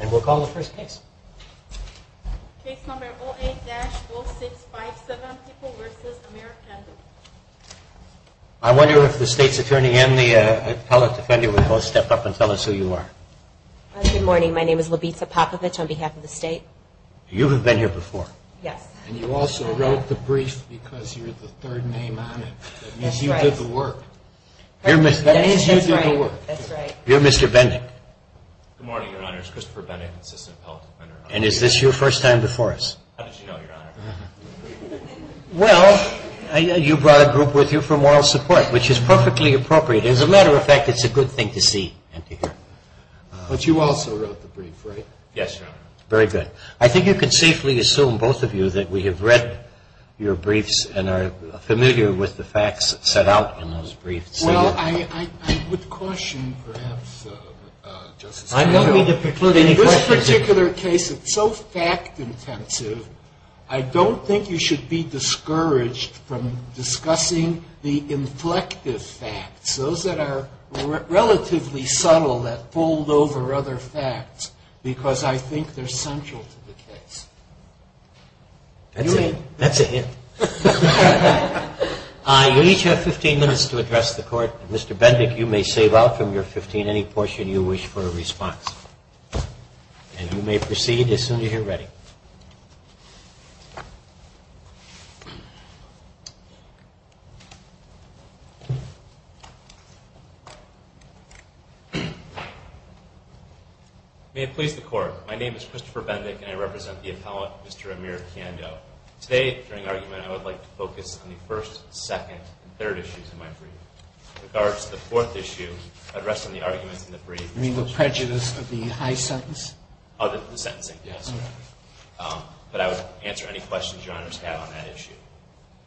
And we'll call the first case. Case number 08-0657, People v. Mayor Kando. I wonder if the state's attorney and the appellate defender would both step up and tell us who you are. Good morning. My name is Labita Popovich on behalf of the state. You have been here before. Yes. And you also wrote the brief because you're the third name on it. That means you did the work. That means you did the work. That's right. You're Mr. Bendick. Good morning, Your Honor. It's Christopher Bendick, assistant appellate defender. And is this your first time before us? How did you know, Your Honor? Well, you brought a group with you for moral support, which is perfectly appropriate. As a matter of fact, it's a good thing to see and to hear. But you also wrote the brief, right? Yes, Your Honor. Very good. I think you can safely assume, both of you, that we have read your briefs and are familiar with the facts set out in those briefs. Well, I would caution, perhaps, Justice Breyer. In this particular case, it's so fact-intensive, I don't think you should be discouraged from discussing the inflective facts, those that are relatively subtle that fold over other facts, because I think they're central to the case. That's a hint. You each have 15 minutes to address the Court. Mr. Bendick, you may save out from your 15 any portion you wish for a response. And you may proceed as soon as you're ready. May it please the Court. My name is Christopher Bendick, and I represent the appellate, Mr. Amir Kando. Today, during argument, I would like to focus on the first, second, and third issues in my brief. With regards to the fourth issue, I'd rest on the arguments in the brief. You mean the prejudice of the high sentence? Oh, the sentencing, yes. But I would answer any questions Your Honors have on that issue.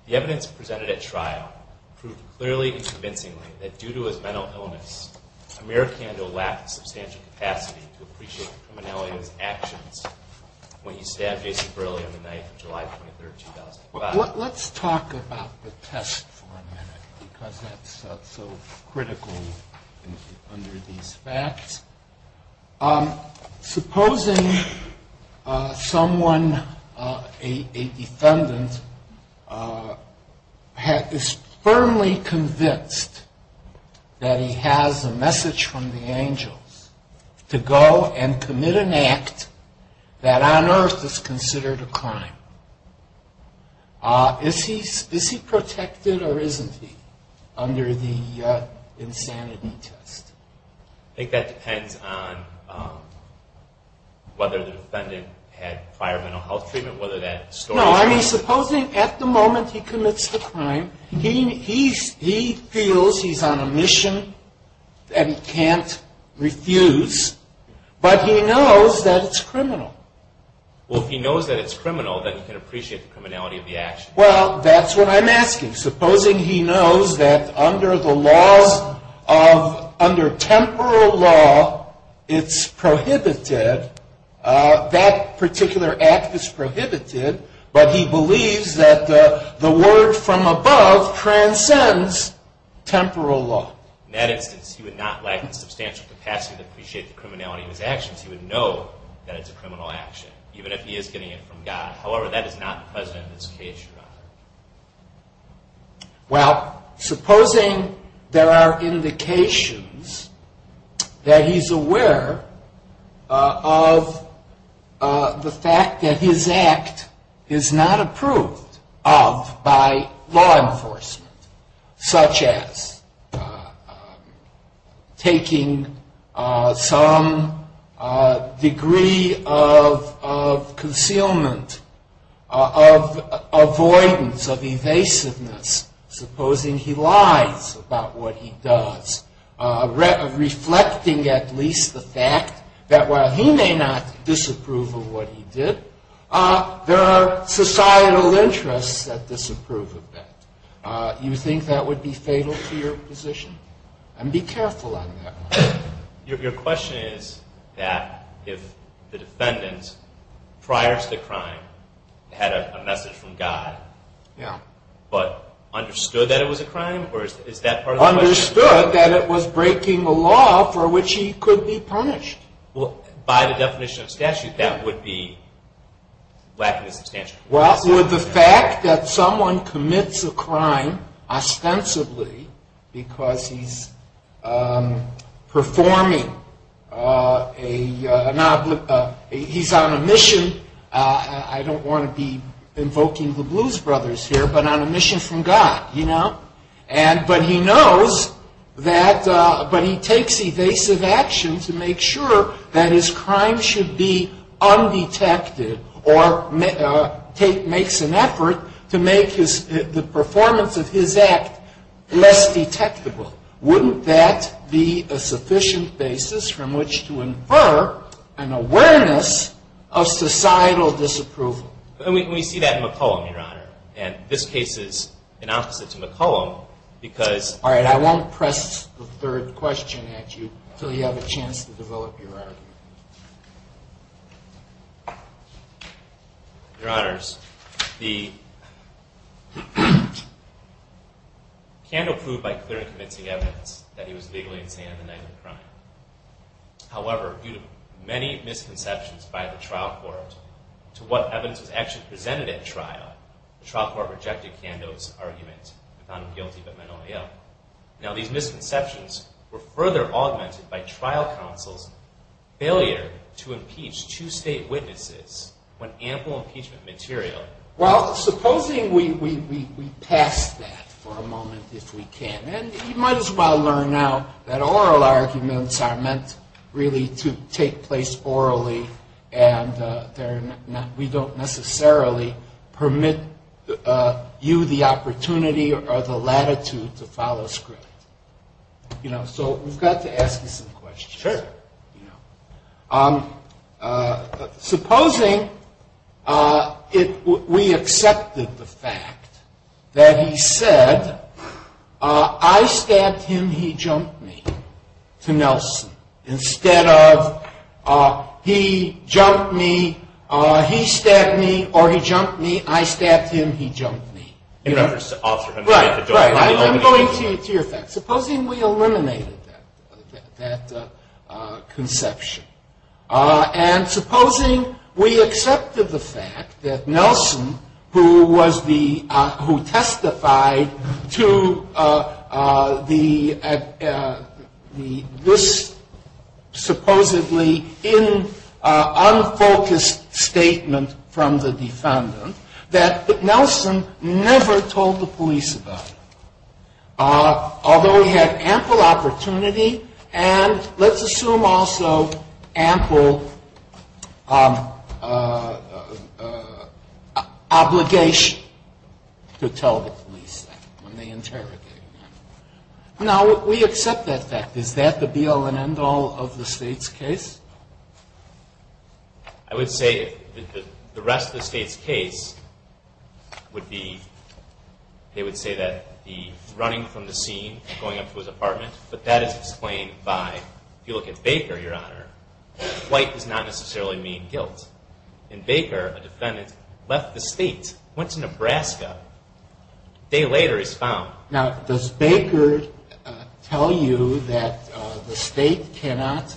The evidence presented at trial proved clearly and convincingly that due to his mental illness, Amir Kando lacked the substantial capacity to appreciate the criminality of his actions when he stabbed Jason Brilli on the night of July 23, 2005. Let's talk about the test for a minute, because that's so critical under these facts. Supposing someone, a defendant, is firmly convinced that he has a message from the angels to go and commit an act that on earth is considered a crime. Is he protected or isn't he under the insanity test? I think that depends on whether the defendant had prior mental health treatment, whether that story... No, I mean supposing at the moment he commits the crime, he feels he's on a mission and he can't refuse, but he knows that it's criminal. Well, if he knows that it's criminal, then he can appreciate the criminality of the action. Well, that's what I'm asking. Supposing he knows that under the laws of, under temporal law, it's prohibited, that particular act is prohibited, but he believes that the word from above transcends temporal law. In that instance, he would not lack the substantial capacity to appreciate the criminality of his actions. He would know that it's a criminal action, even if he is getting it from God. However, that is not the precedent in this case, Your Honor. Well, supposing there are indications that he's aware of the fact that his act is not approved of by law enforcement, such as taking some degree of concealment, of avoidance, of evasiveness, supposing he lies about what he does, reflecting at least the fact that while he may not disapprove of what he did, there are societal interests that disapprove of that. You think that would be fatal to your position? And be careful on that one. Your question is that if the defendant, prior to the crime, had a message from God, but understood that it was a crime, or is that part of the question? Understood that it was breaking the law for which he could be punished. Well, by the definition of statute, that would be lacking the substantial capacity. Well, with the fact that someone commits a crime ostensibly because he's performing a, he's on a mission, I don't want to be invoking the Blues Brothers here, but on a mission from God, you know? But he knows that, but he takes evasive action to make sure that his crime should be undetected, or makes an effort to make the performance of his act less detectable. Wouldn't that be a sufficient basis from which to infer an awareness of societal disapproval? And we see that in McCollum, Your Honor. And this case is an opposite to McCollum, because... All right, I won't press the third question at you until you have a chance to develop your argument. Your Honors, the... Pando proved by clear and convincing evidence that he was legally insane on the night of the crime. However, due to many misconceptions by the trial court, to what evidence was actually presented at trial, the trial court rejected Pando's argument with unguilty but mentally ill. Now, these misconceptions were further augmented by trial counsel's failure to impeach two state witnesses when ample impeachment material... Well, supposing we pass that for a moment, if we can. And you might as well learn now that oral arguments are meant really to take place orally, and we don't necessarily permit you the opportunity or the latitude to follow script. You know, so we've got to ask you some questions. Sure. Supposing we accepted the fact that he said, I stabbed him, he jumped me, to Nelson. Instead of, he jumped me, he stabbed me, or he jumped me, I stabbed him, he jumped me. In reference to Officer Hunter. I'm going to your facts. Supposing we eliminated that conception. And supposing we accepted the fact that Nelson, who testified to this supposedly unfocused statement from the defendant, that Nelson never told the police about it. Although he had ample opportunity and, let's assume also, ample obligation to tell the police that when they interrogated him. Now, we accept that fact. Is that the be-all and end-all of the state's case? I would say the rest of the state's case would be, they would say that the running from the scene, going up to his apartment. But that is explained by, if you look at Baker, Your Honor, white does not necessarily mean guilt. In Baker, a defendant left the state, went to Nebraska. A day later, he's found. Now, does Baker tell you that the state cannot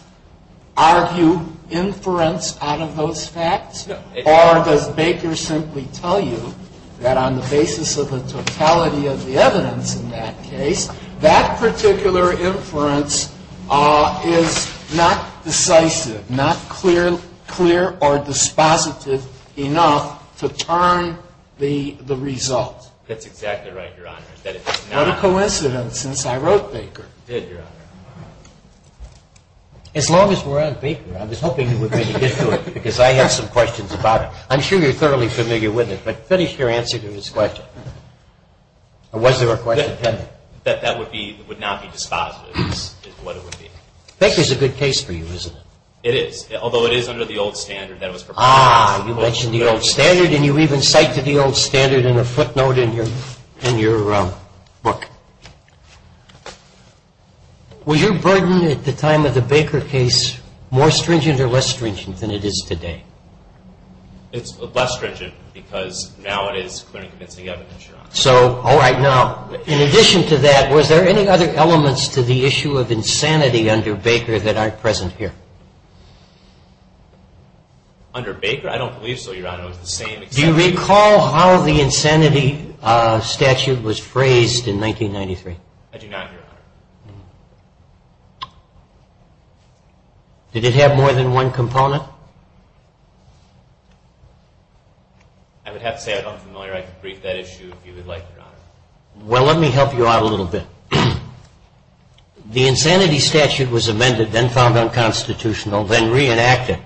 argue inference out of those facts? No. Or does Baker simply tell you that on the basis of the totality of the evidence in that case, that particular inference is not decisive, not clear or dispositive enough to turn the result? That's exactly right, Your Honor. What a coincidence. I wrote Baker. You did, Your Honor. As long as we're on Baker, I was hoping you were going to get to it, because I have some questions about it. I'm sure you're thoroughly familiar with it. But finish your answer to this question. Or was there a question pending? That that would be, would not be dispositive is what it would be. Baker's a good case for you, isn't it? It is, although it is under the old standard that was proposed. Ah, you mentioned the old standard, and you even cite to the old standard in a footnote in your book. Was your burden at the time of the Baker case more stringent or less stringent than it is today? It's less stringent, because now it is clear and convincing evidence, Your Honor. So, all right, now, in addition to that, was there any other elements to the issue of insanity under Baker that aren't present here? Under Baker? I don't believe so, Your Honor. Do you recall how the insanity statute was phrased in 1993? I do not, Your Honor. Did it have more than one component? I would have to say I'm not familiar. I can brief that issue if you would like, Your Honor. Well, let me help you out a little bit. The insanity statute was amended, then found unconstitutional, then reenacted.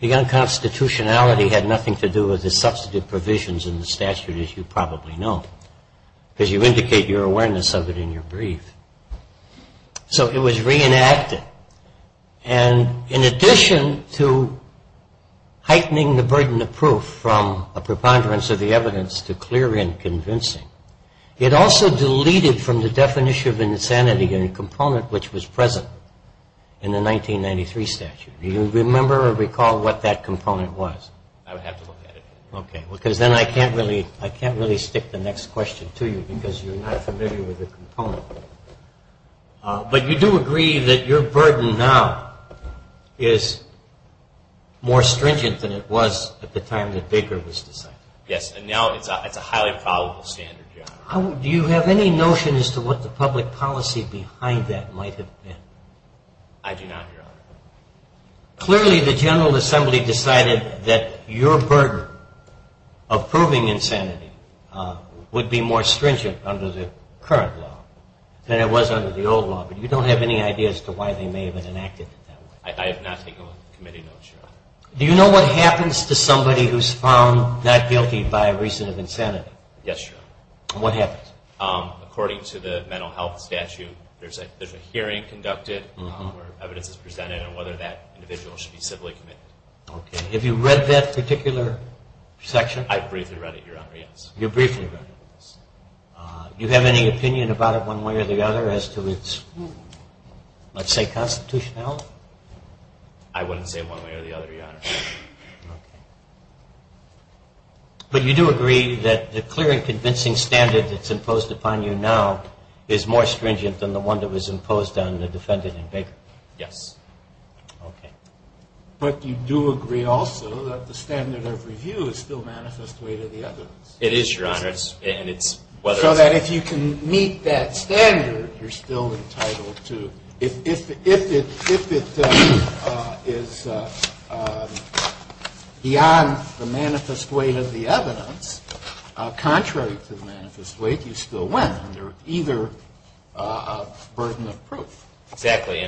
The unconstitutionality had nothing to do with the substantive provisions in the statute, as you probably know, because you indicate your awareness of it in your brief. So it was reenacted. And in addition to heightening the burden of proof from a preponderance of the evidence to clear and convincing, it also deleted from the definition of insanity a component which was present in the 1993 statute. Do you remember or recall what that component was? I would have to look at it. Okay, because then I can't really stick the next question to you because you're not familiar with the component. But you do agree that your burden now is more stringent than it was at the time that Baker was decided? Yes, and now it's a highly probable standard, Your Honor. Do you have any notion as to what the public policy behind that might have been? I do not, Your Honor. Clearly the General Assembly decided that your burden of proving insanity would be more stringent under the current law than it was under the old law, but you don't have any idea as to why they may have enacted it that way? I have not taken committee notes, Your Honor. Do you know what happens to somebody who's found not guilty by reason of insanity? Yes, Your Honor. And what happens? According to the mental health statute, there's a hearing conducted where evidence is presented and whether that individual should be civilly committed. Okay, have you read that particular section? I briefly read it, Your Honor, yes. You briefly read it? Yes. Do you have any opinion about it one way or the other as to its, let's say, constitutionality? I wouldn't say one way or the other, Your Honor. Okay. But you do agree that the clear and convincing standard that's imposed upon you now is more stringent than the one that was imposed on the defendant in Baker? Yes. Okay. But you do agree also that the standard of review is still manifest way to the evidence? It is, Your Honor. So that if you can meet that standard, you're still entitled to, if it is beyond the manifest way of the evidence, contrary to the manifest way, you still win under either burden of proof. Exactly.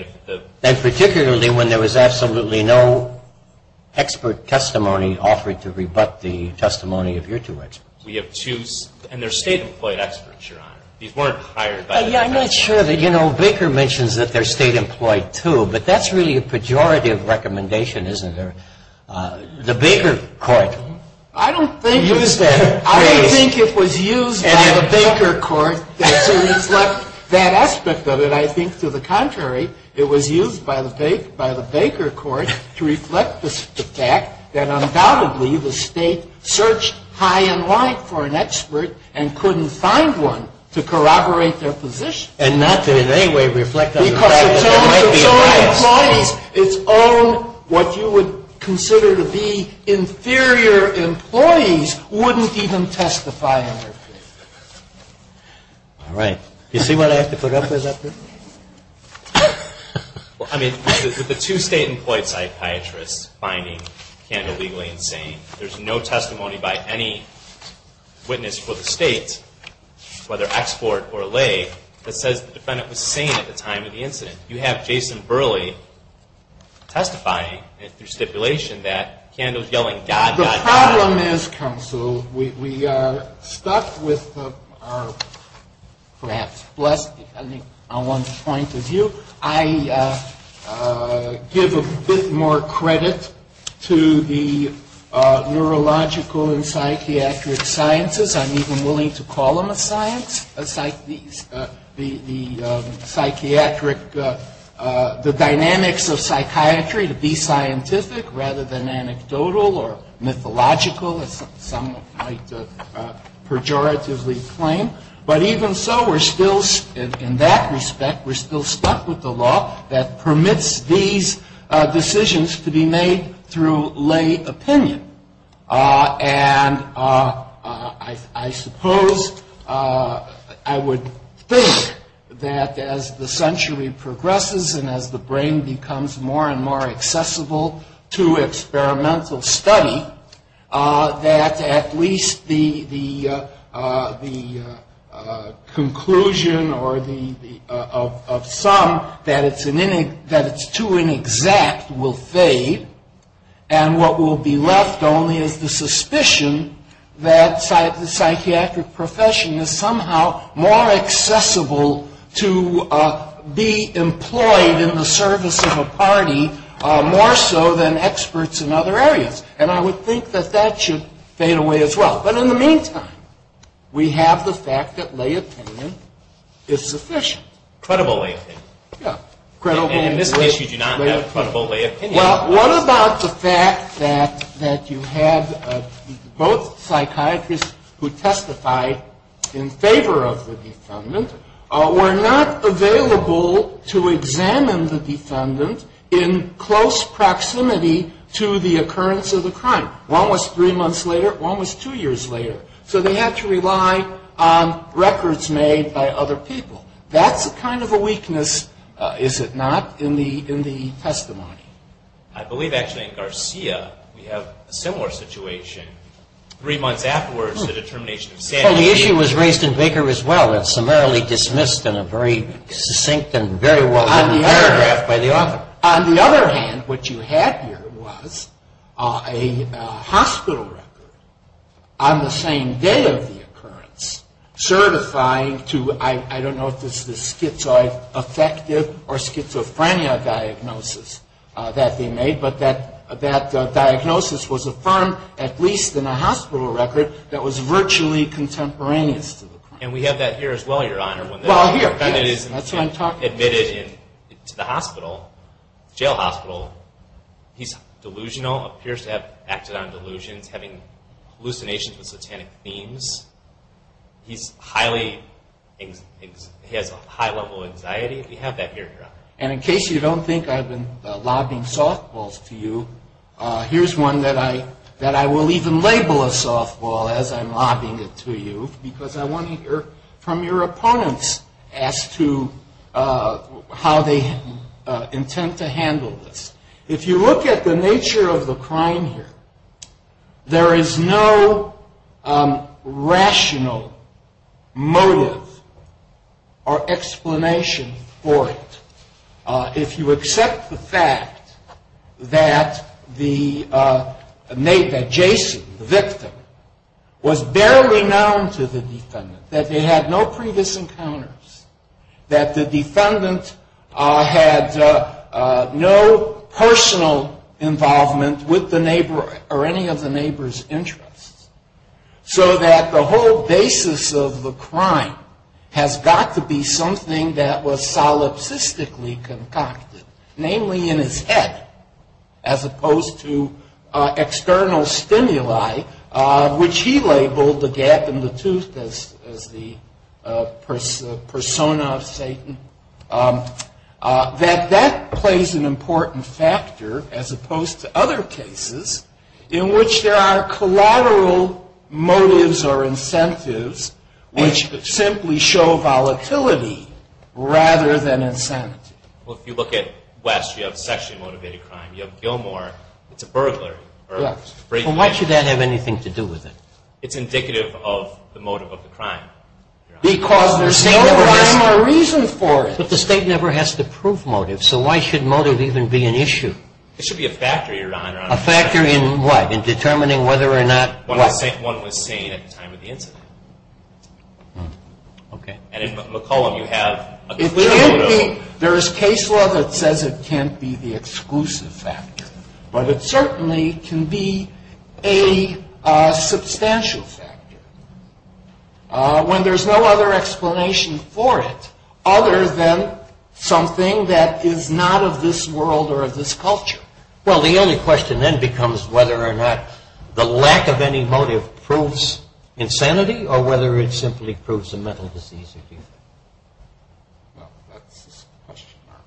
And particularly when there was absolutely no expert testimony offering to rebut the testimony of your two experts. We have two, and they're state-employed experts, Your Honor. These weren't hired by the defense. I'm not sure that, you know, Baker mentions that they're state-employed, too, but that's really a pejorative recommendation, isn't there? The Baker court used that phrase. I don't think it was used by the Baker court to reflect that aspect of it. I think, to the contrary, it was used by the Baker court to reflect the fact that, undoubtedly, the state searched high and wide for an expert and couldn't find one to corroborate their position. And not to, in any way, reflect on the fact that there might be a bias. Because the terms of some employees, its own, what you would consider to be inferior employees, wouldn't even testify on their behalf. All right. You see what I have to put up with up here? Well, I mean, with the two state-employed psychiatrists finding Kanda legally insane, there's no testimony by any witness for the state, whether export or lay, that says the defendant was sane at the time of the incident. You have Jason Burley testifying through stipulation that Kanda was yelling, The problem is, counsel, we are stuck with our perhaps blessed, depending on one's point of view. I give a bit more credit to the neurological and psychiatric sciences. I'm even willing to call them a science. The dynamics of psychiatry to be scientific rather than anecdotal or mythological, as some might pejoratively claim. But even so, in that respect, we're still stuck with the law that permits these decisions to be made through lay opinion. And I suppose I would think that as the century progresses and as the brain becomes more and more accessible to experimental study, that at least the conclusion of some that it's too inexact will fade. And what will be left only is the suspicion that the psychiatric profession is somehow more accessible to be employed in the service of a party more so than experts in other areas. And I would think that that should fade away as well. But in the meantime, we have the fact that lay opinion is sufficient. Credible lay opinion. Yeah. And in this case, you do not have credible lay opinion. Well, what about the fact that you have both psychiatrists who testified in favor of the defendant were not available to examine the defendant in close proximity to the occurrence of the crime. One was three months later. One was two years later. So they had to rely on records made by other people. That's kind of a weakness, is it not, in the testimony. I believe actually in Garcia we have a similar situation. Three months afterwards, the determination of Sandy. Well, the issue was raised in Baker as well. It's summarily dismissed in a very succinct and very well written paragraph by the author. On the other hand, what you had here was a hospital record on the same day of the occurrence certifying to, I don't know if this is schizoaffective or schizophrenia diagnosis that they made, but that diagnosis was affirmed at least in a hospital record that was virtually contemporaneous to the crime. And we have that here as well, Your Honor. Well, here, yes. And it is admitted to the hospital, jail hospital. He's delusional, appears to have acted on delusions, having hallucinations with satanic themes. He has a high level of anxiety. We have that here, Your Honor. And in case you don't think I've been lobbing softballs to you, here's one that I will even label a softball as I'm lobbing it to you because I want to hear from your opponents as to how they intend to handle this. If you look at the nature of the crime here, there is no rational motive or explanation for it. If you accept the fact that Jason, the victim, was barely known to the defendant, that they had no previous encounters, that the defendant had no personal involvement with the neighbor or any of the neighbor's interests, so that the whole basis of the crime has got to be something that was solipsistically concocted, namely in his head, as opposed to external stimuli, which he labeled the gap in the tooth as the persona of Satan, that that plays an important factor as opposed to other cases in which there are collateral motives or incentives which simply show volatility rather than incentive. Well, if you look at West, you have sexually motivated crime. You have Gilmore. It's a burglary. Why should that have anything to do with it? It's indicative of the motive of the crime. Because there's no rhyme or reason for it. But the State never has to prove motive, so why should motive even be an issue? It should be a factor, Your Honor. A factor in what? In determining whether or not what? One was seen at the time of the incident. Okay. And in McCollum, you have a clear motive. There is case law that says it can't be the exclusive factor, but it certainly can be a substantial factor. When there's no other explanation for it other than something that is not of this world or of this culture. Well, the only question then becomes whether or not the lack of any motive proves insanity or whether it simply proves a mental disease. Well, that's a question mark.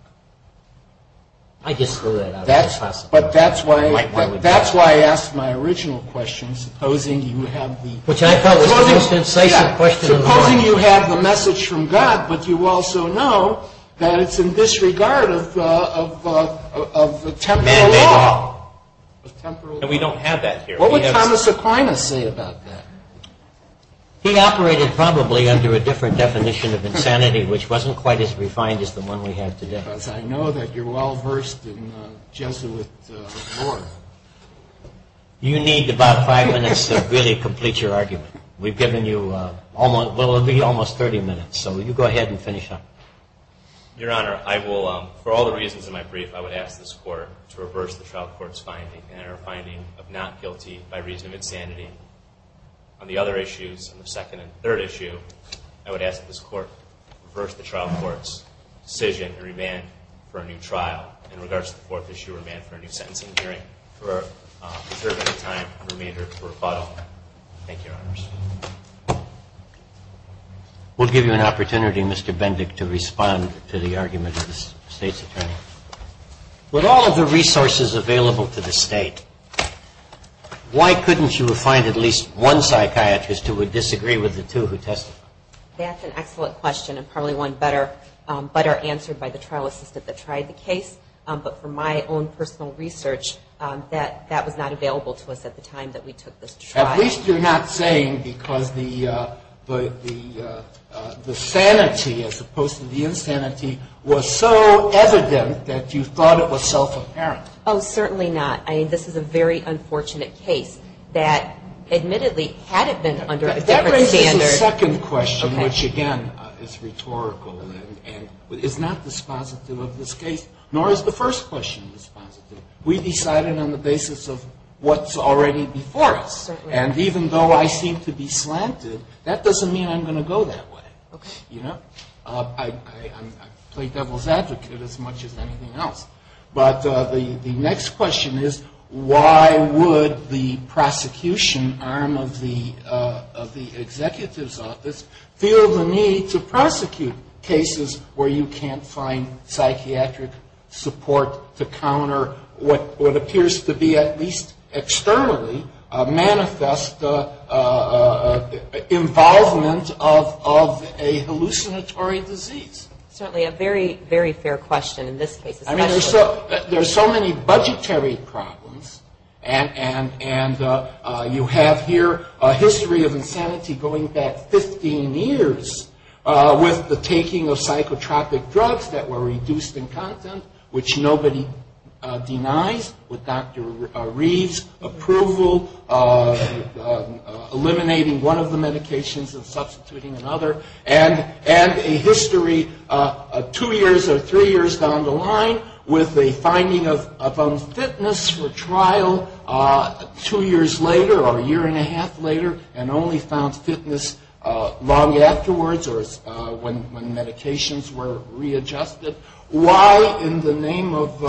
I just threw that out there. But that's why I asked my original question, supposing you have the... Which I thought was the most incisive question in the book. Supposing you have the message from God, but you also know that it's in disregard of the temporal law. And we don't have that here. What would Thomas Aquinas say about that? He operated probably under a different definition of insanity, which wasn't quite as refined as the one we have today. Because I know that you're well-versed in Jesuit lore. You need about five minutes to really complete your argument. We've given you almost 30 minutes, so you go ahead and finish up. Your Honor, for all the reasons in my brief, I would ask this Court to reverse the trial court's finding and our finding of not guilty by reason of insanity. On the other issues, on the second and third issue, I would ask this Court to reverse the trial court's decision and remand for a new trial in regards to the fourth issue, and to remand for a new sentencing hearing for a period of time and remainder of rebuttal. Thank you, Your Honors. We'll give you an opportunity, Mr. Bendick, to respond to the argument of the State's Attorney. With all of the resources available to the State, why couldn't you find at least one psychiatrist who would disagree with the two who testified? That's an excellent question, and probably one better answered by the trial assistant that tried the case. But from my own personal research, that was not available to us at the time that we took this trial. At least you're not saying because the sanity, as opposed to the insanity, was so evident that you thought it was self-apparent. Oh, certainly not. I mean, this is a very unfortunate case that, admittedly, had it been under a different standard. That raises a second question, which, again, is rhetorical and is not dispositive of this case, nor is the first question dispositive. We decided on the basis of what's already before us. And even though I seem to be slanted, that doesn't mean I'm going to go that way. I play devil's advocate as much as anything else. But the next question is, why would the prosecution arm of the executive's office feel the need to prosecute cases where you can't find psychiatric support to counter what appears to be, at least externally, manifest involvement of a hallucinatory disease? Certainly a very, very fair question in this case. I mean, there are so many budgetary problems. And you have here a history of insanity going back 15 years with the taking of psychotropic drugs that were reduced in content, which nobody denies, with Dr. Reeves' approval, eliminating one of the medications and substituting another, and a history two years or three years down the line with a finding of unfitness for trial two years later or a year and a half later and only found fitness long afterwards or when medications were readjusted. Why, in the name of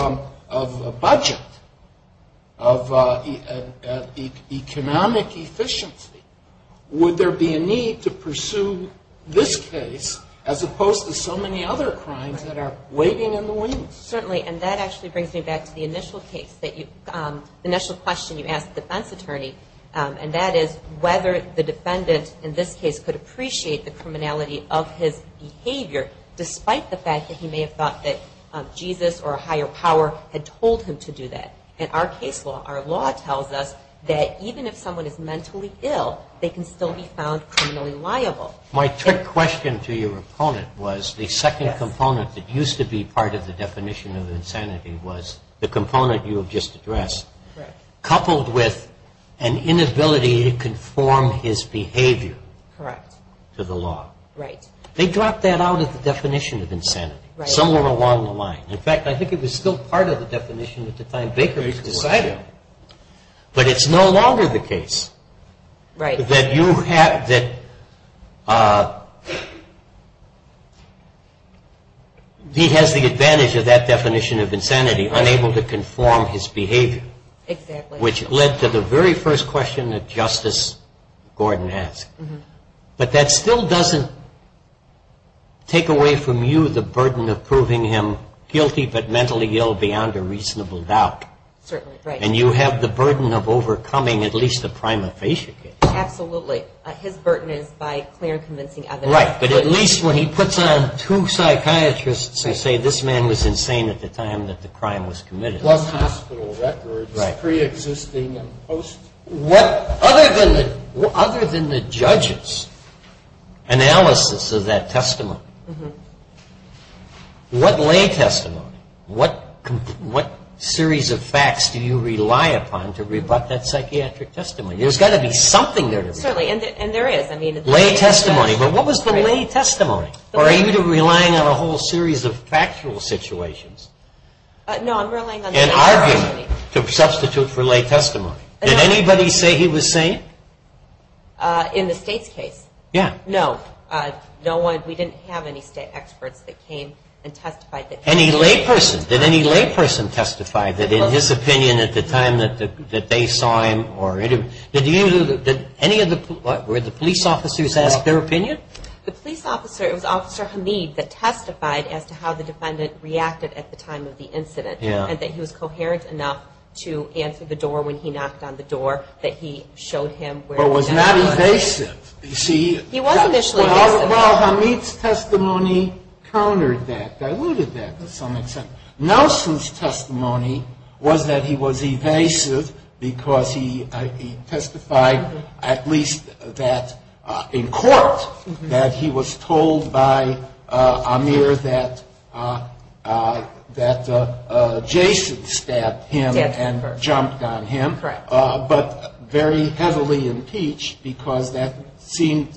a budget, of economic efficiency, would there be a need to pursue this case as opposed to so many other crimes that are waving in the wind? Certainly. And that actually brings me back to the initial case, the initial question you asked the defense attorney, and that is whether the defendant in this case could appreciate the criminality of his behavior despite the fact that he may have thought that Jesus or a higher power had told him to do that. And our case law, our law tells us that even if someone is mentally ill, they can still be found criminally liable. Well, my trick question to your opponent was the second component that used to be part of the definition of insanity was the component you have just addressed, coupled with an inability to conform his behavior to the law. Right. They dropped that out of the definition of insanity somewhere along the line. In fact, I think it was still part of the definition at the time Baker was deciding, but it's no longer the case that he has the advantage of that definition of insanity, unable to conform his behavior. Exactly. Which led to the very first question that Justice Gordon asked. But that still doesn't take away from you the burden of proving him guilty but mentally ill beyond a reasonable doubt. Certainly. And you have the burden of overcoming at least a prima facie case. Absolutely. His burden is by clear and convincing evidence. Right. But at least when he puts on two psychiatrists who say this man was insane at the time that the crime was committed. Plus hospital records, pre-existing and post. Other than the judge's analysis of that testimony, what lay testimony, what series of facts do you rely upon to rebut that psychiatric testimony? There's got to be something there. Certainly. And there is. Lay testimony. But what was the lay testimony? Or are you relying on a whole series of factual situations? No, I'm relying on the lay testimony. An argument to substitute for lay testimony. Did anybody say he was sane? In the State's case? Yeah. No. We didn't have any State experts that came and testified that he was sane. Any lay person? Did any lay person testify that in his opinion at the time that they saw him? Did any of the police officers ask their opinion? The police officer, it was Officer Hamid, that testified as to how the defendant reacted at the time of the incident. And that he was coherent enough to answer the door when he knocked on the door, that he showed him where the gun was. But was not evasive. He was initially evasive. Well, Hamid's testimony countered that, diluted that to some extent. Nelson's testimony was that he was evasive because he testified at least that in court that he was told by Amir that Jason stabbed him and jumped on him. Correct. But very heavily impeached because that seemed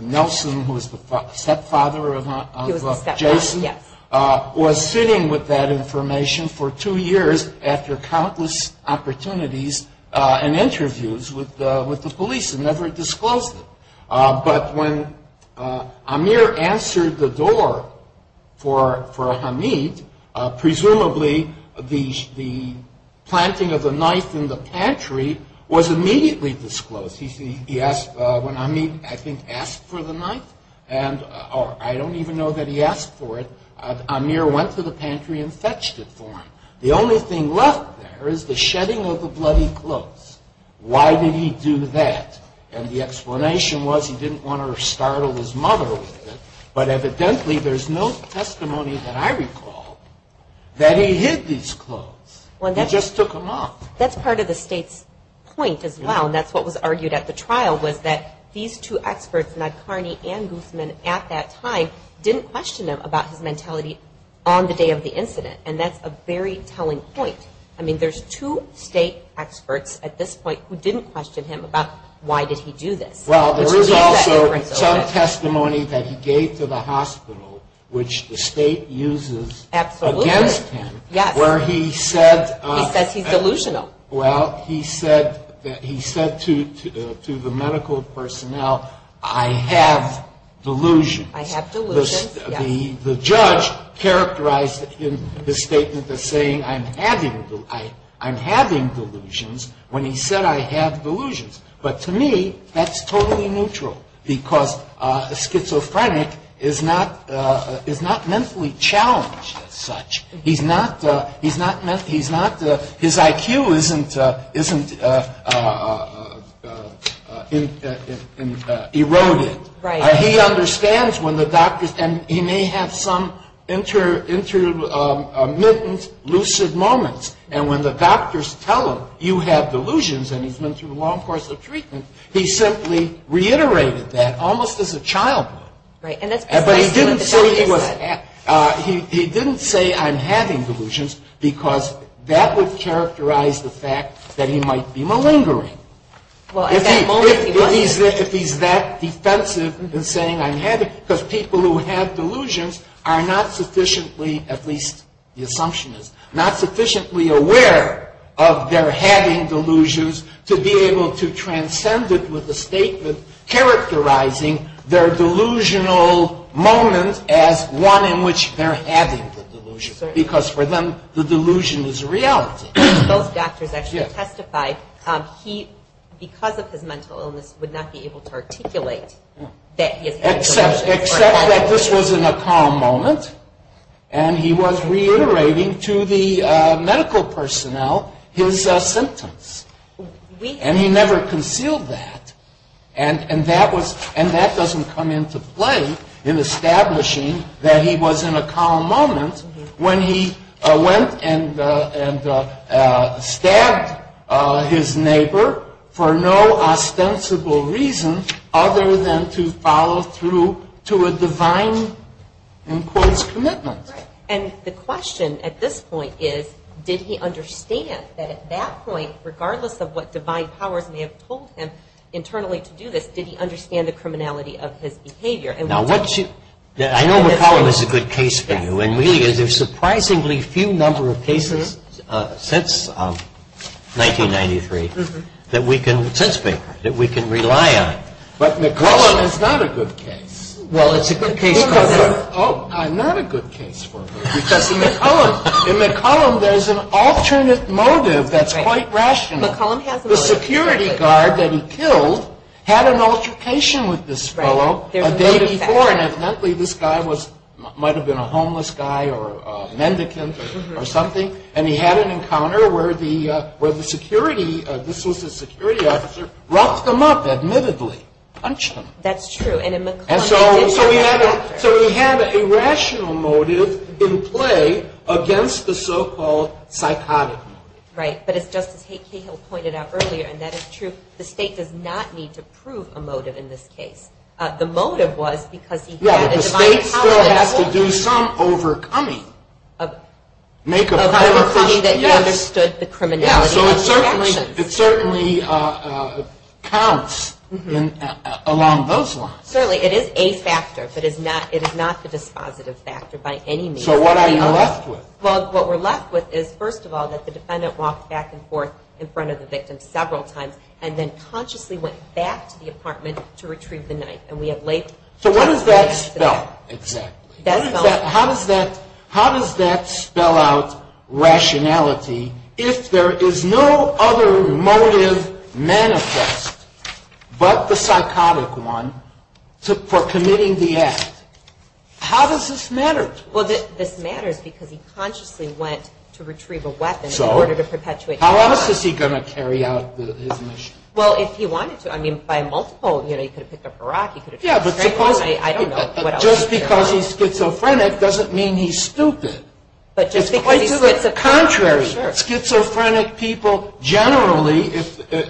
Nelson, who was the stepfather of Jason, was sitting with that information for two years after countless opportunities and interviews with the police and never disclosed it. But when Amir answered the door for Hamid, presumably the planting of the knife in the pantry was immediately disclosed. When Hamid, I think, asked for the knife, or I don't even know that he asked for it, Amir went to the pantry and fetched it for him. The only thing left there is the shedding of the bloody clothes. Why did he do that? And the explanation was he didn't want to startle his mother with it. But evidently there's no testimony that I recall that he hid these clothes. He just took them off. That's part of the state's point as well, and that's what was argued at the trial, was that these two experts, Nadkarni and Guzman, at that time, didn't question him about his mentality on the day of the incident. And that's a very telling point. I mean, there's two state experts at this point who didn't question him about why did he do this. Well, there is also some testimony that he gave to the hospital, which the state uses against him, where he said to the medical personnel, I have delusions. I have delusions, yes. The judge characterized in his statement as saying, I'm having delusions when he said I have delusions. But to me, that's totally neutral because a schizophrenic is not mentally challenged as such. His IQ isn't eroded. He understands when the doctors, and he may have some intermittent lucid moments, and when the doctors tell him you have delusions and he's been through a long course of treatment, he simply reiterated that almost as a child. But he didn't say he was, he didn't say I'm having delusions because that would characterize the fact that he might be malingering. If he's that defensive in saying I'm having, because people who have delusions are not sufficiently, at least the assumption is, not sufficiently aware of their having delusions to be able to transcend it with a statement characterizing their delusional moment as one in which they're having the delusion because for them the delusion is reality. Both doctors actually testified he, because of his mental illness, would not be able to articulate that he has had delusions. Except that this was in a calm moment, and he was reiterating to the medical personnel his symptoms. And he never concealed that. And that doesn't come into play in establishing that he was in a calm moment when he went and stabbed his neighbor for no ostensible reason other than to follow through to a divine, in quotes, commitment. And the question at this point is did he understand that at that point, regardless of what divine powers may have told him internally to do this, did he understand the criminality of his behavior? I know McCollum is a good case for you, and really there's a surprisingly few number of cases since 1993 that we can rely on. But McCollum is not a good case. Well, it's a good case for him. Oh, I'm not a good case for him because in McCollum there's an alternate motive that's quite rational. The security guard that he killed had an altercation with this fellow a day before, and evidently this guy might have been a homeless guy or a mendicant or something, and he had an encounter where the security, this was his security officer, roughed him up, admittedly, punched him. That's true. And in McCollum he did do that. So he had a rational motive in play against the so-called psychotic motive. Right, but as Justice Cahill pointed out earlier, and that is true, the State does not need to prove a motive in this case. The motive was because he had a divine power. Yeah, the State still has to do some overcoming. Make a prior first appeal. Yes, so it certainly counts along those lines. Certainly. It is a factor, but it is not the dispositive factor by any means. So what are you left with? Well, what we're left with is, first of all, that the defendant walked back and forth in front of the victim several times and then consciously went back to the apartment to retrieve the knife. So what does that spell, exactly? How does that spell out rationality if there is no other motive manifest but the psychotic one for committing the act? How does this matter to us? Well, this matters because he consciously went to retrieve a weapon in order to perpetuate the crime. How else is he going to carry out his mission? Well, if he wanted to. I mean, by multiple, you know, he could have picked up a rock, he could have picked up a straight one, I don't know. But just because he's schizophrenic doesn't mean he's stupid. It's quite the contrary. Schizophrenic people generally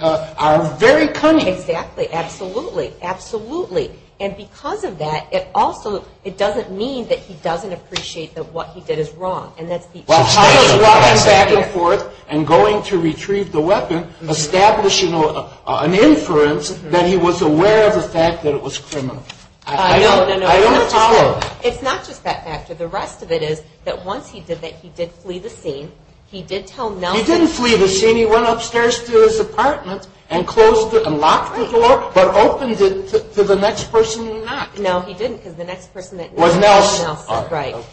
are very cunning. Exactly, absolutely, absolutely. And because of that, it also doesn't mean that he doesn't appreciate that what he did is wrong. So how does walking back and forth and going to retrieve the weapon establish an inference that he was aware of the fact that it was criminal? I don't follow. It's not just that factor. The rest of it is that once he did that, he did flee the scene. He did tell Nelson. He didn't flee the scene. He went upstairs to his apartment and locked the door but opened it to the next person who knocked. No, he didn't because the next person that knocked was Nelson. Nelson, right.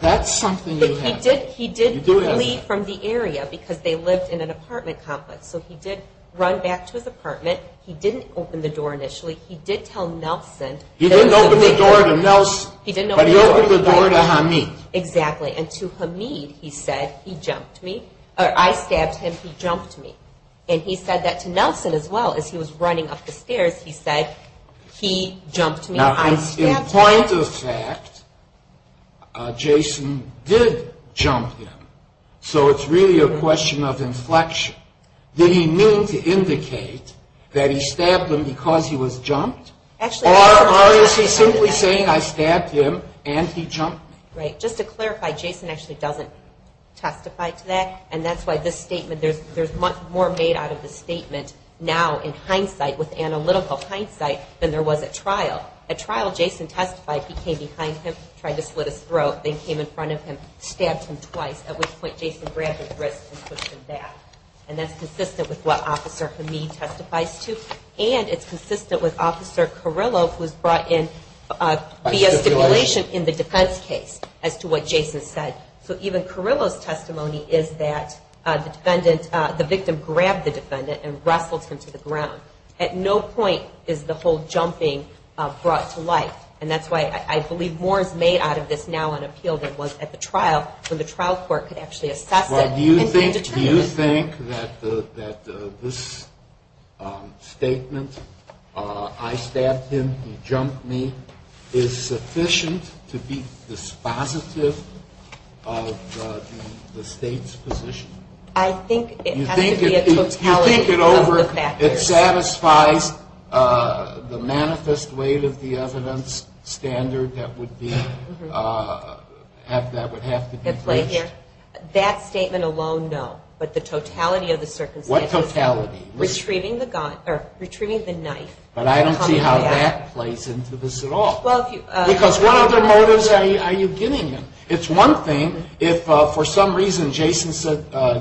That's something you have to do. He did flee from the area because they lived in an apartment complex. So he did run back to his apartment. He didn't open the door initially. He did tell Nelson. He didn't open the door to Nelson, but he opened the door to Hamid. Exactly, and to Hamid he said, I stabbed him, he jumped me. And he said that to Nelson as well as he was running up the stairs. He said, he jumped me, I stabbed him. So in point of fact, Jason did jump him. So it's really a question of inflection. Did he mean to indicate that he stabbed him because he was jumped? Or is he simply saying I stabbed him and he jumped me? Right. Just to clarify, Jason actually doesn't testify to that, and that's why this statement, there's much more made out of this statement now in hindsight, with analytical hindsight, than there was at trial. At trial, Jason testified, he came behind him, tried to slit his throat, then came in front of him, stabbed him twice, at which point Jason grabbed his wrist and pushed him back. And that's consistent with what Officer Hamid testifies to, and it's consistent with Officer Carrillo who was brought in via stipulation in the defense case as to what Jason said. So even Carrillo's testimony is that the victim grabbed the defendant and wrestled him to the ground. At no point is the whole jumping brought to light, and that's why I believe more is made out of this now in appeal than was at the trial when the trial court could actually assess it and determine it. Do you think that this statement, I stabbed him, he jumped me, is sufficient to be dispositive of the state's position? I think it has to be a totality of the factors. It satisfies the manifest weight of the evidence standard that would have to be breached? That statement alone, no, but the totality of the circumstances. What totality? Retrieving the knife. But I don't see how that plays into this at all. Because what other motives are you giving him? It's one thing if for some reason Jason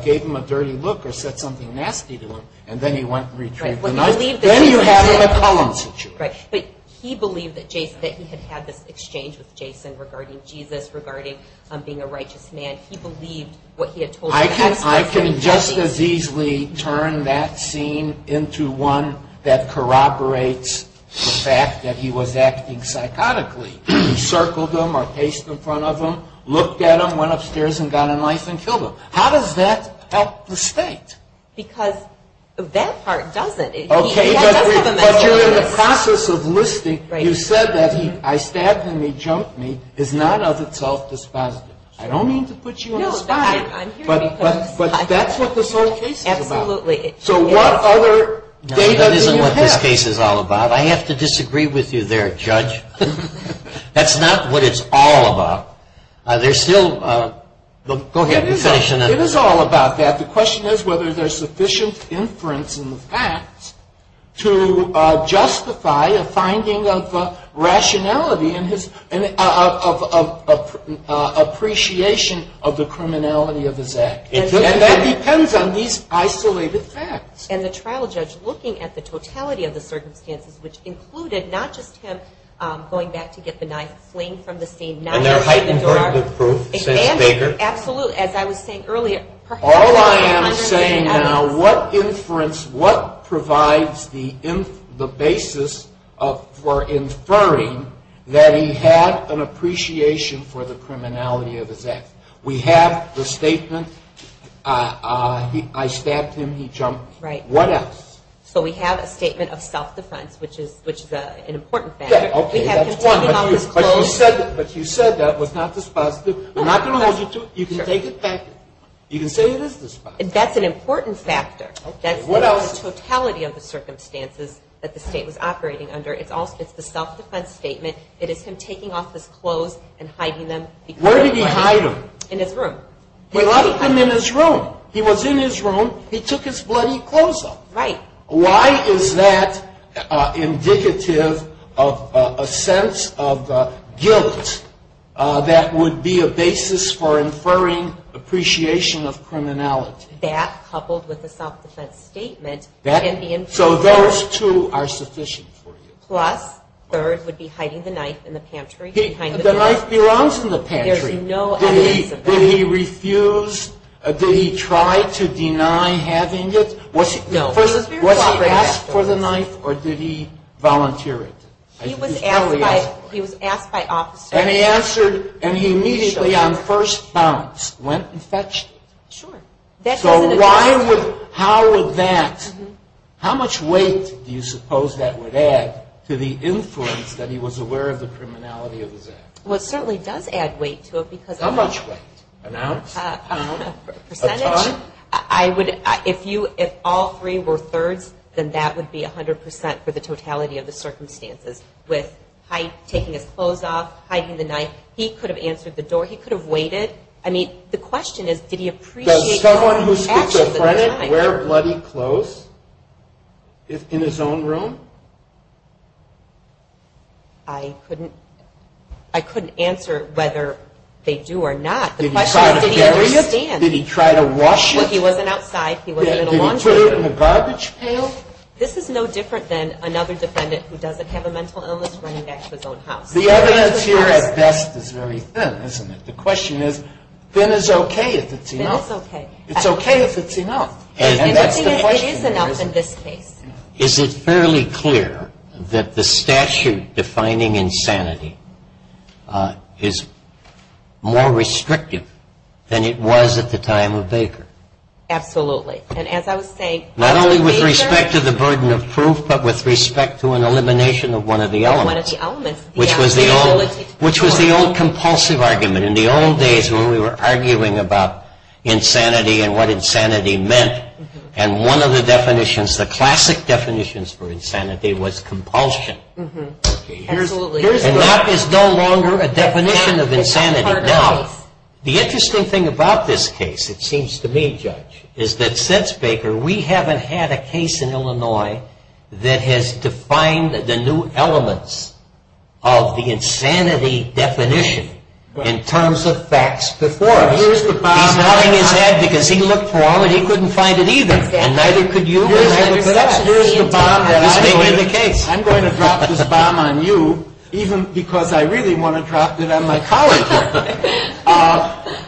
gave him a dirty look or said something nasty to him, and then he went and retrieved the knife. Then you have a McCollum situation. But he believed that he had had this exchange with Jason regarding Jesus, regarding being a righteous man. He believed what he had told him. I can just as easily turn that scene into one that corroborates the fact that he was acting psychotically. He circled him or paced in front of him, looked at him, went upstairs and got a knife and killed him. How does that help the state? Because that part doesn't. Okay, but you're in the process of listing. You said that I stabbed him, he jumped me is not of itself dispositive. I don't mean to put you on the spot, but that's what this whole case is about. Absolutely. So what other data do you have? No, that isn't what this case is all about. I have to disagree with you there, Judge. That's not what it's all about. It is all about that. The question is whether there is sufficient inference in the facts to justify a finding of rationality of appreciation of the criminality of his act. And that depends on these isolated facts. And the trial judge looking at the totality of the circumstances, which included not just him going back to get the knife, fleeing from the scene, and their heightened verdict of proof, since Baker. Absolutely. As I was saying earlier, perhaps there are hundreds of evidence. All I am saying now, what inference, what provides the basis for inferring that he had an appreciation for the criminality of his act? We have the statement, I stabbed him, he jumped me. Right. What else? So we have a statement of self-defense, which is an important factor. Okay, that's one. But you said that was not dispositive. We're not going to hold you to it. You can take it back. You can say it is dispositive. That's an important factor. That's the totality of the circumstances that the state was operating under. It's the self-defense statement. It is him taking off his clothes and hiding them. Where did he hide them? In his room. He left them in his room. He was in his room. He took his bloody clothes off. Right. Why is that indicative of a sense of guilt that would be a basis for inferring appreciation of criminality? That, coupled with the self-defense statement can be inferred. So those two are sufficient for you. Plus, third would be hiding the knife in the pantry behind the door. The knife belongs in the pantry. There's no evidence of that. Did he refuse? Did he try to deny having it? No. Was he asked for the knife, or did he volunteer it? He was asked by officers. And he answered, and he immediately, on first bounce, went and fetched it. Sure. So how would that, how much weight do you suppose that would add to the influence that he was aware of the criminality of his act? Well, it certainly does add weight to it. How much weight? An ounce? A percentage? A ton? I would, if you, if all three were thirds, then that would be 100% for the totality of the circumstances. With taking his clothes off, hiding the knife, he could have answered the door, he could have waited. I mean, the question is, did he appreciate the actions at the time? Does someone who's schizophrenic wear bloody clothes in his own room? I couldn't answer whether they do or not. The question is, did he understand? Did he try to wash it? Well, he wasn't outside. He wasn't in a laundry room. Did he put it in a garbage pail? This is no different than another defendant who doesn't have a mental illness running back to his own house. The evidence here, at best, is very thin, isn't it? The question is, thin is okay if it's enough. Thin is okay. It's okay if it's enough. And that's the question here, isn't it? It is enough in this case. Is it fairly clear that the statute defining insanity is more restrictive than it was at the time of Baker? Absolutely. And as I was saying, Not only with respect to the burden of proof, but with respect to an elimination of one of the elements, which was the old compulsive argument. In the old days when we were arguing about insanity and what insanity meant, and one of the definitions, the classic definitions for insanity was compulsion. And that is no longer a definition of insanity. Now, the interesting thing about this case, it seems to me, Judge, is that since Baker we haven't had a case in Illinois that has defined the new elements of the insanity definition in terms of facts before us. He's nodding his head because he looked for all and he couldn't find it either. And neither could you. Here's the bomb that I'm going to drop this bomb on you, even because I really want to drop it on my colleague here.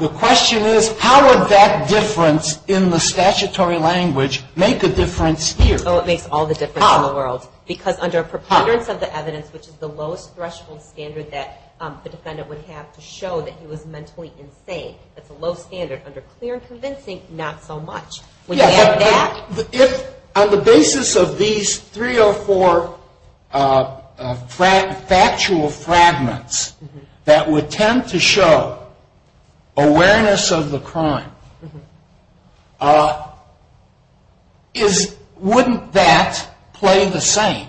The question is, how would that difference in the statutory language make a difference here? Oh, it makes all the difference in the world. Because under preponderance of the evidence, which is the lowest threshold standard that the defendant would have to show that he was mentally insane, that's a low standard. Under clear and convincing, not so much. On the basis of these three or four factual fragments that would tend to show awareness of the crime, wouldn't that play the same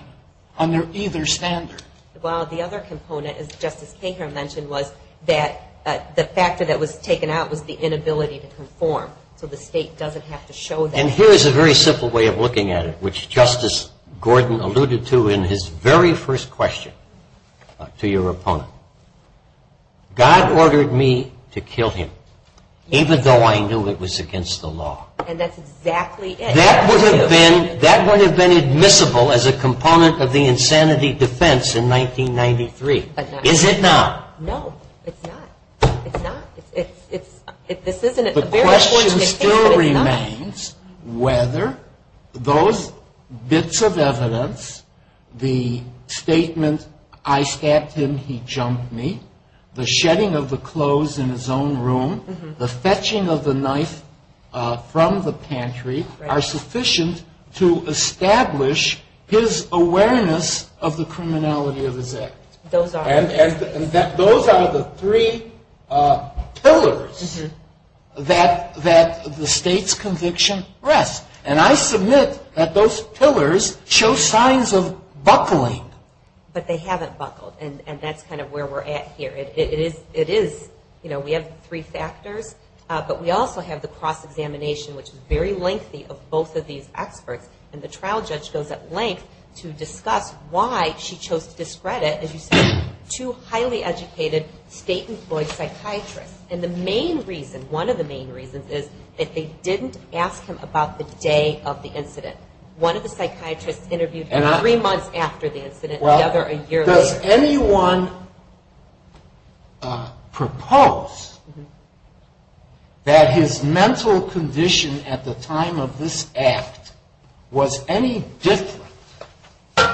under either standard? Well, the other component, as Justice Baker mentioned, was that the factor that was taken out was the inability to conform. So the state doesn't have to show that. And here is a very simple way of looking at it, which Justice Gordon alluded to in his very first question to your opponent. God ordered me to kill him, even though I knew it was against the law. And that's exactly it. That would have been admissible as a component of the insanity defense in 1993. Is it not? No, it's not. The question still remains whether those bits of evidence, the statement, I stabbed him, he jumped me, the shedding of the clothes in his own room, the fetching of the knife from the pantry, are sufficient to establish his awareness of the criminality of his act. And those are the three pillars that the state's conviction rests. And I submit that those pillars show signs of buckling. But they haven't buckled, and that's kind of where we're at here. We have three factors, but we also have the cross-examination, which is very lengthy, of both of these experts. And the trial judge goes at length to discuss why she chose to discredit, as you said, two highly educated state-employed psychiatrists. And the main reason, one of the main reasons, is that they didn't ask him about the day of the incident. One of the psychiatrists interviewed three months after the incident, the other a year later. Does anyone propose that his mental condition at the time of this act was any different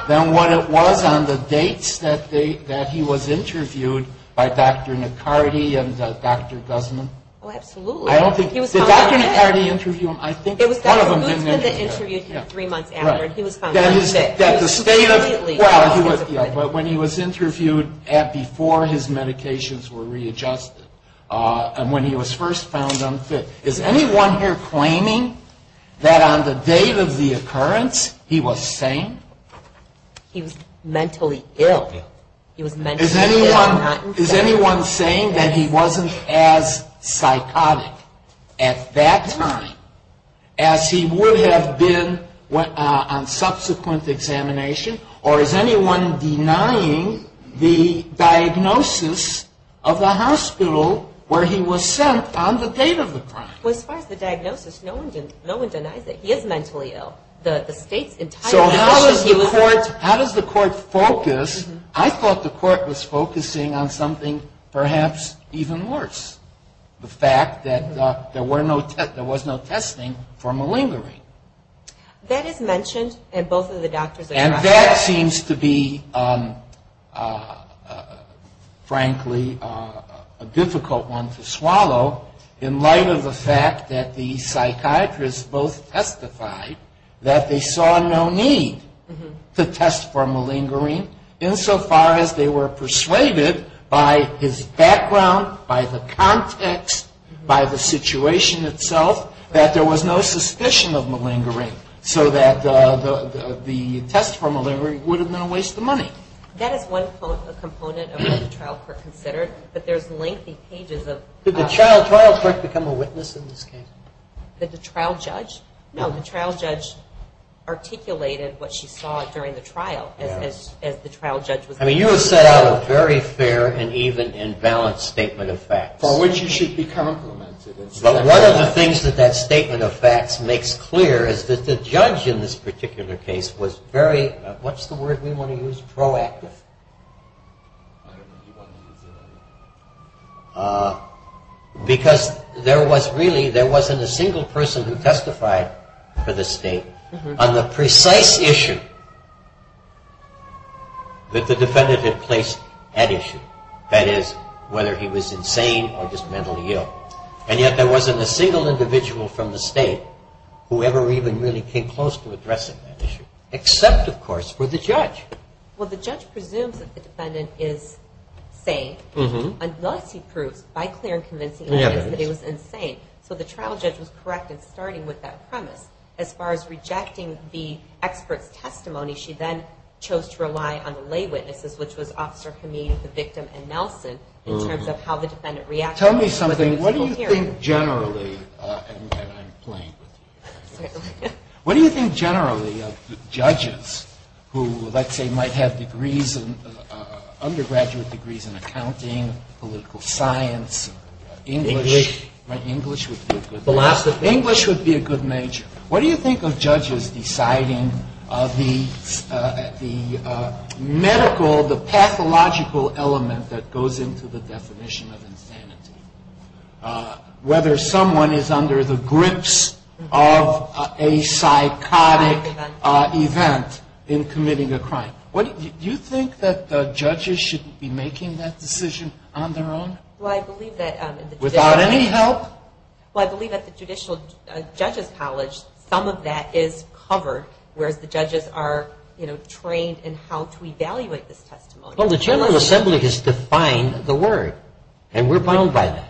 than what it was on the dates that he was interviewed by Dr. McCarty and Dr. Guzman? Oh, absolutely. Did Dr. McCarty interview him? It was Dr. Guzman that interviewed him three months after. He was found unfit. He was immediately unphysically ill. But when he was interviewed before his medications were readjusted and when he was first found unfit. Is anyone here claiming that on the date of the occurrence he was sane? He was mentally ill. He was mentally ill and not infected. Is anyone saying that he wasn't as psychotic at that time as he would have been on subsequent examination? Or is anyone denying the diagnosis of the hospital where he was sent on the date of the crime? As far as the diagnosis, no one denies it. He is mentally ill. So how does the court focus? I thought the court was focusing on something perhaps even worse, the fact that there was no testing for malingering. That is mentioned in both of the doctors' accounts. And that seems to be, frankly, a difficult one to swallow in light of the fact that the psychiatrists both testified that they saw no need to test for malingering insofar as they were persuaded by his background, by the context, by the situation itself, that there was no suspicion of malingering so that the test for malingering would have been a waste of money. That is one component of what the trial court considered. But there's lengthy pages of the trial. Did the trial trial court become a witness in this case? Did the trial judge? No, the trial judge articulated what she saw during the trial as the trial judge was. I mean, you have set out a very fair and even and balanced statement of facts. For which you should be complimented. But one of the things that that statement of facts makes clear is that the judge in this particular case was very, what's the word we want to use? Proactive. Because there was really, there wasn't a single person who testified for the state on the precise issue that the defendant had placed at issue. That is, whether he was insane or just mentally ill. And yet there wasn't a single individual from the state who ever even really came close to addressing that issue. Except, of course, for the judge. Well, the judge presumes that the defendant is sane, unless he proves by clear and convincing evidence that he was insane. So the trial judge was correct in starting with that premise. As far as rejecting the expert's testimony, she then chose to rely on the lay witnesses, which was Officer Kameen, the victim, and Nelson, in terms of how the defendant reacted. Tell me something. What do you think generally, and I'm playing with you. What do you think generally of judges who, let's say, might have degrees, undergraduate degrees in accounting, political science, English. English. English would be a good major. What do you think of judges deciding the medical, the pathological element that goes into the definition of insanity? Whether someone is under the grips of a psychotic event in committing a crime. Do you think that judges should be making that decision on their own? Well, I believe that... Without any help? Well, I believe at the Judicial Judges College, some of that is covered, whereas the judges are trained in how to evaluate this testimony. Well, the General Assembly has defined the word, and we're bound by that.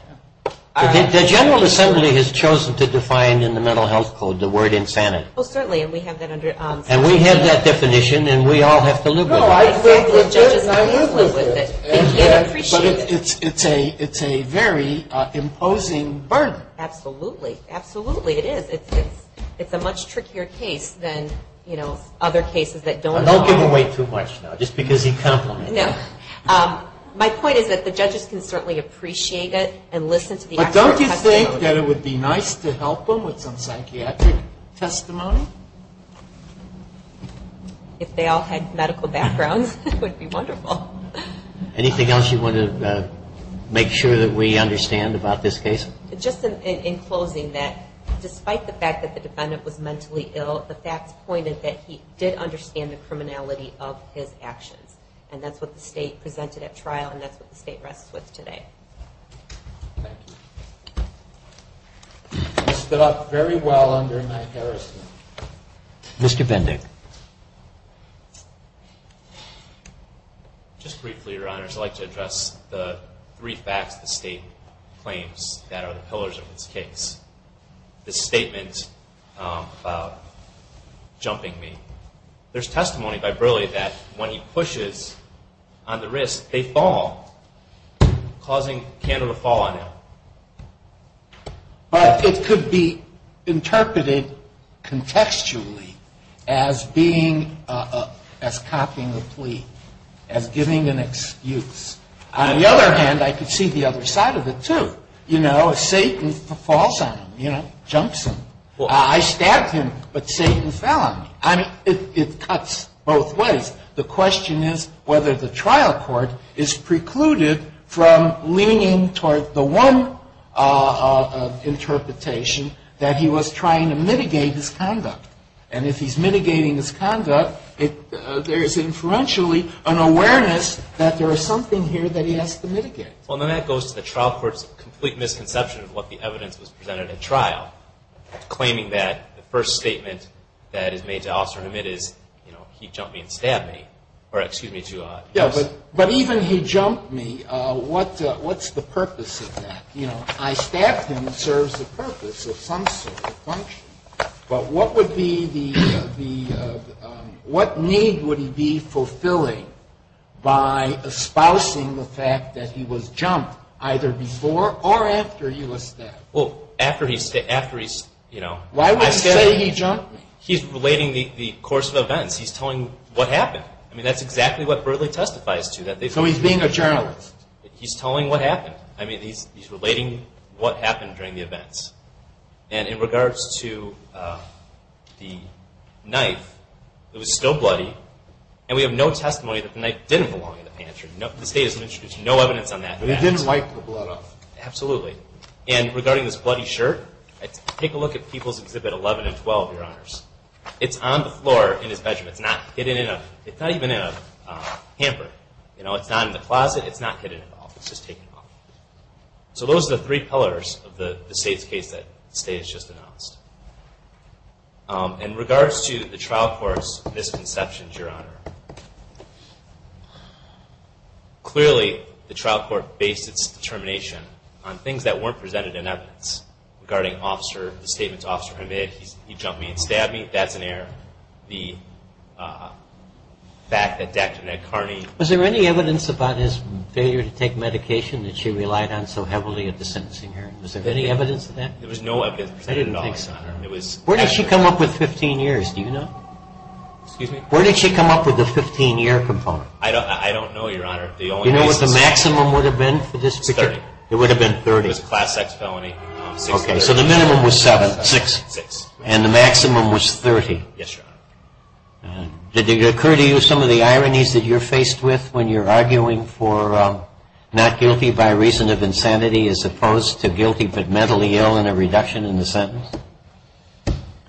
The General Assembly has chosen to define in the Mental Health Code the word insanity. Oh, certainly, and we have that under... And we have that definition, and we all have to live with it. No, I live with it, and I live with it. They can't appreciate it. But it's a very imposing burden. Absolutely. Absolutely, it is. It's a much trickier case than, you know, other cases that don't involve... Don't give away too much now, just because he complimented you. No. My point is that the judges can certainly appreciate it and listen to the expert testimony. But don't you think that it would be nice to help them with some psychiatric testimony? If they all had medical backgrounds, it would be wonderful. Anything else you want to make sure that we understand about this case? Just in closing, that despite the fact that the defendant was mentally ill, the facts pointed that he did understand the criminality of his actions. And that's what the State presented at trial, and that's what the State rests with today. Thank you. This stood up very well under my jurisdiction. Mr. Vendick. Just briefly, Your Honors, I'd like to address the three facts the State claims that are the pillars of this case. The statement about jumping me. There's testimony by Burleigh that when he pushes on the wrist, they fall, causing candle to fall on him. But it could be interpreted contextually as copying the plea, as giving an excuse. On the other hand, I could see the other side of it, too. You know, if Satan falls on him, you know, jumps him. I stabbed him, but Satan fell on me. I mean, it cuts both ways. The question is whether the trial court is precluded from leaning toward the one interpretation that he was trying to mitigate his conduct. And if he's mitigating his conduct, there is inferentially an awareness that there is something here that he has to mitigate. Well, then that goes to the trial court's complete misconception of what the evidence was presented at trial, claiming that the first statement that is made to officer Hamid is, you know, he jumped me and stabbed me. Or excuse me. Yeah, but even he jumped me. What's the purpose of that? You know, I stabbed him. It serves the purpose of some sort of function. But what need would he be fulfilling by espousing the fact that he was jumped, either before or after he was stabbed? Well, after he's, you know, I stabbed him. Why would you say he jumped me? He's relating the course of events. He's telling what happened. I mean, that's exactly what Bertley testifies to. So he's being a journalist. He's telling what happened. I mean, he's relating what happened during the events. And in regards to the knife, it was still bloody, and we have no testimony that the knife didn't belong in the pantry. The state has introduced no evidence on that. But he didn't wipe the blood off. Absolutely. And regarding this bloody shirt, take a look at People's Exhibit 11 and 12, Your Honors. It's on the floor in his bedroom. It's not hidden in a, it's not even in a hamper. You know, it's not in the closet. It's not hidden at all. It's just taken off. So those are the three pillars of the state's case that the state has just announced. In regards to the trial court's misconceptions, Your Honor, clearly the trial court based its determination on things that weren't presented in evidence. Regarding officer, the statements officer made, he jumped me and stabbed me, that's an error. The fact that Dr. Ned Kearney. Was there any evidence about his failure to take medication that she relied on so heavily at the sentencing hearing? Was there any evidence of that? There was no evidence presented at all, Your Honor. I didn't think so. Where did she come up with 15 years? Do you know? Excuse me? Where did she come up with the 15-year component? I don't know, Your Honor. Do you know what the maximum would have been for this? It's 30. It would have been 30. It was a class X felony. Okay. So the minimum was seven, six. Six. And the maximum was 30. Yes, Your Honor. Did it occur to you some of the ironies that you're faced with when you're arguing for not guilty by reason of insanity as opposed to guilty but mentally ill and a reduction in the sentence?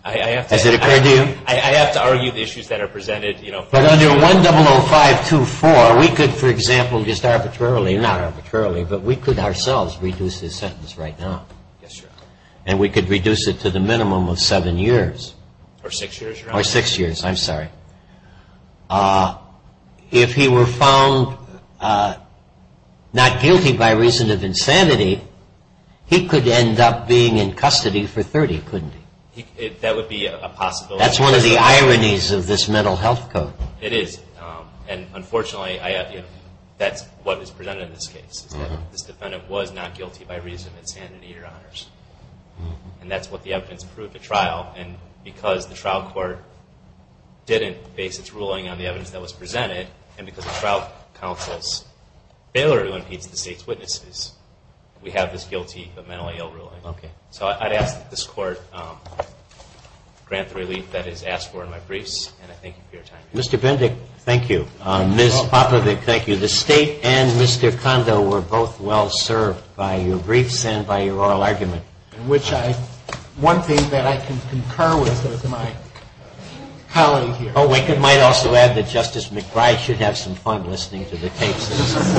Has it occurred to you? I have to argue the issues that are presented, you know. But under 100524, we could, for example, just arbitrarily, not arbitrarily, but we could ourselves reduce his sentence right now. Yes, Your Honor. And we could reduce it to the minimum of seven years. Or six years, Your Honor. Or six years. I'm sorry. If he were found not guilty by reason of insanity, he could end up being in custody for 30, couldn't he? That would be a possibility. That's one of the ironies of this mental health code. It is. And, unfortunately, that's what is presented in this case, is that this defendant was not guilty by reason of insanity, Your Honors. And that's what the evidence proved at trial. And because the trial court didn't base its ruling on the evidence that was presented, and because of trial counsel's failure to impeach the state's witnesses, we have this guilty but mentally ill ruling. Okay. So I'd ask that this Court grant the relief that is asked for in my briefs. And I thank you for your time. Mr. Bendick, thank you. Ms. Popovic, thank you. The State and Mr. Kondo were both well served by your briefs and by your oral argument. One thing that I can concur with is my colleague here. Oh, we might also add that Justice McBride should have some fun listening to the tapes. Thank you.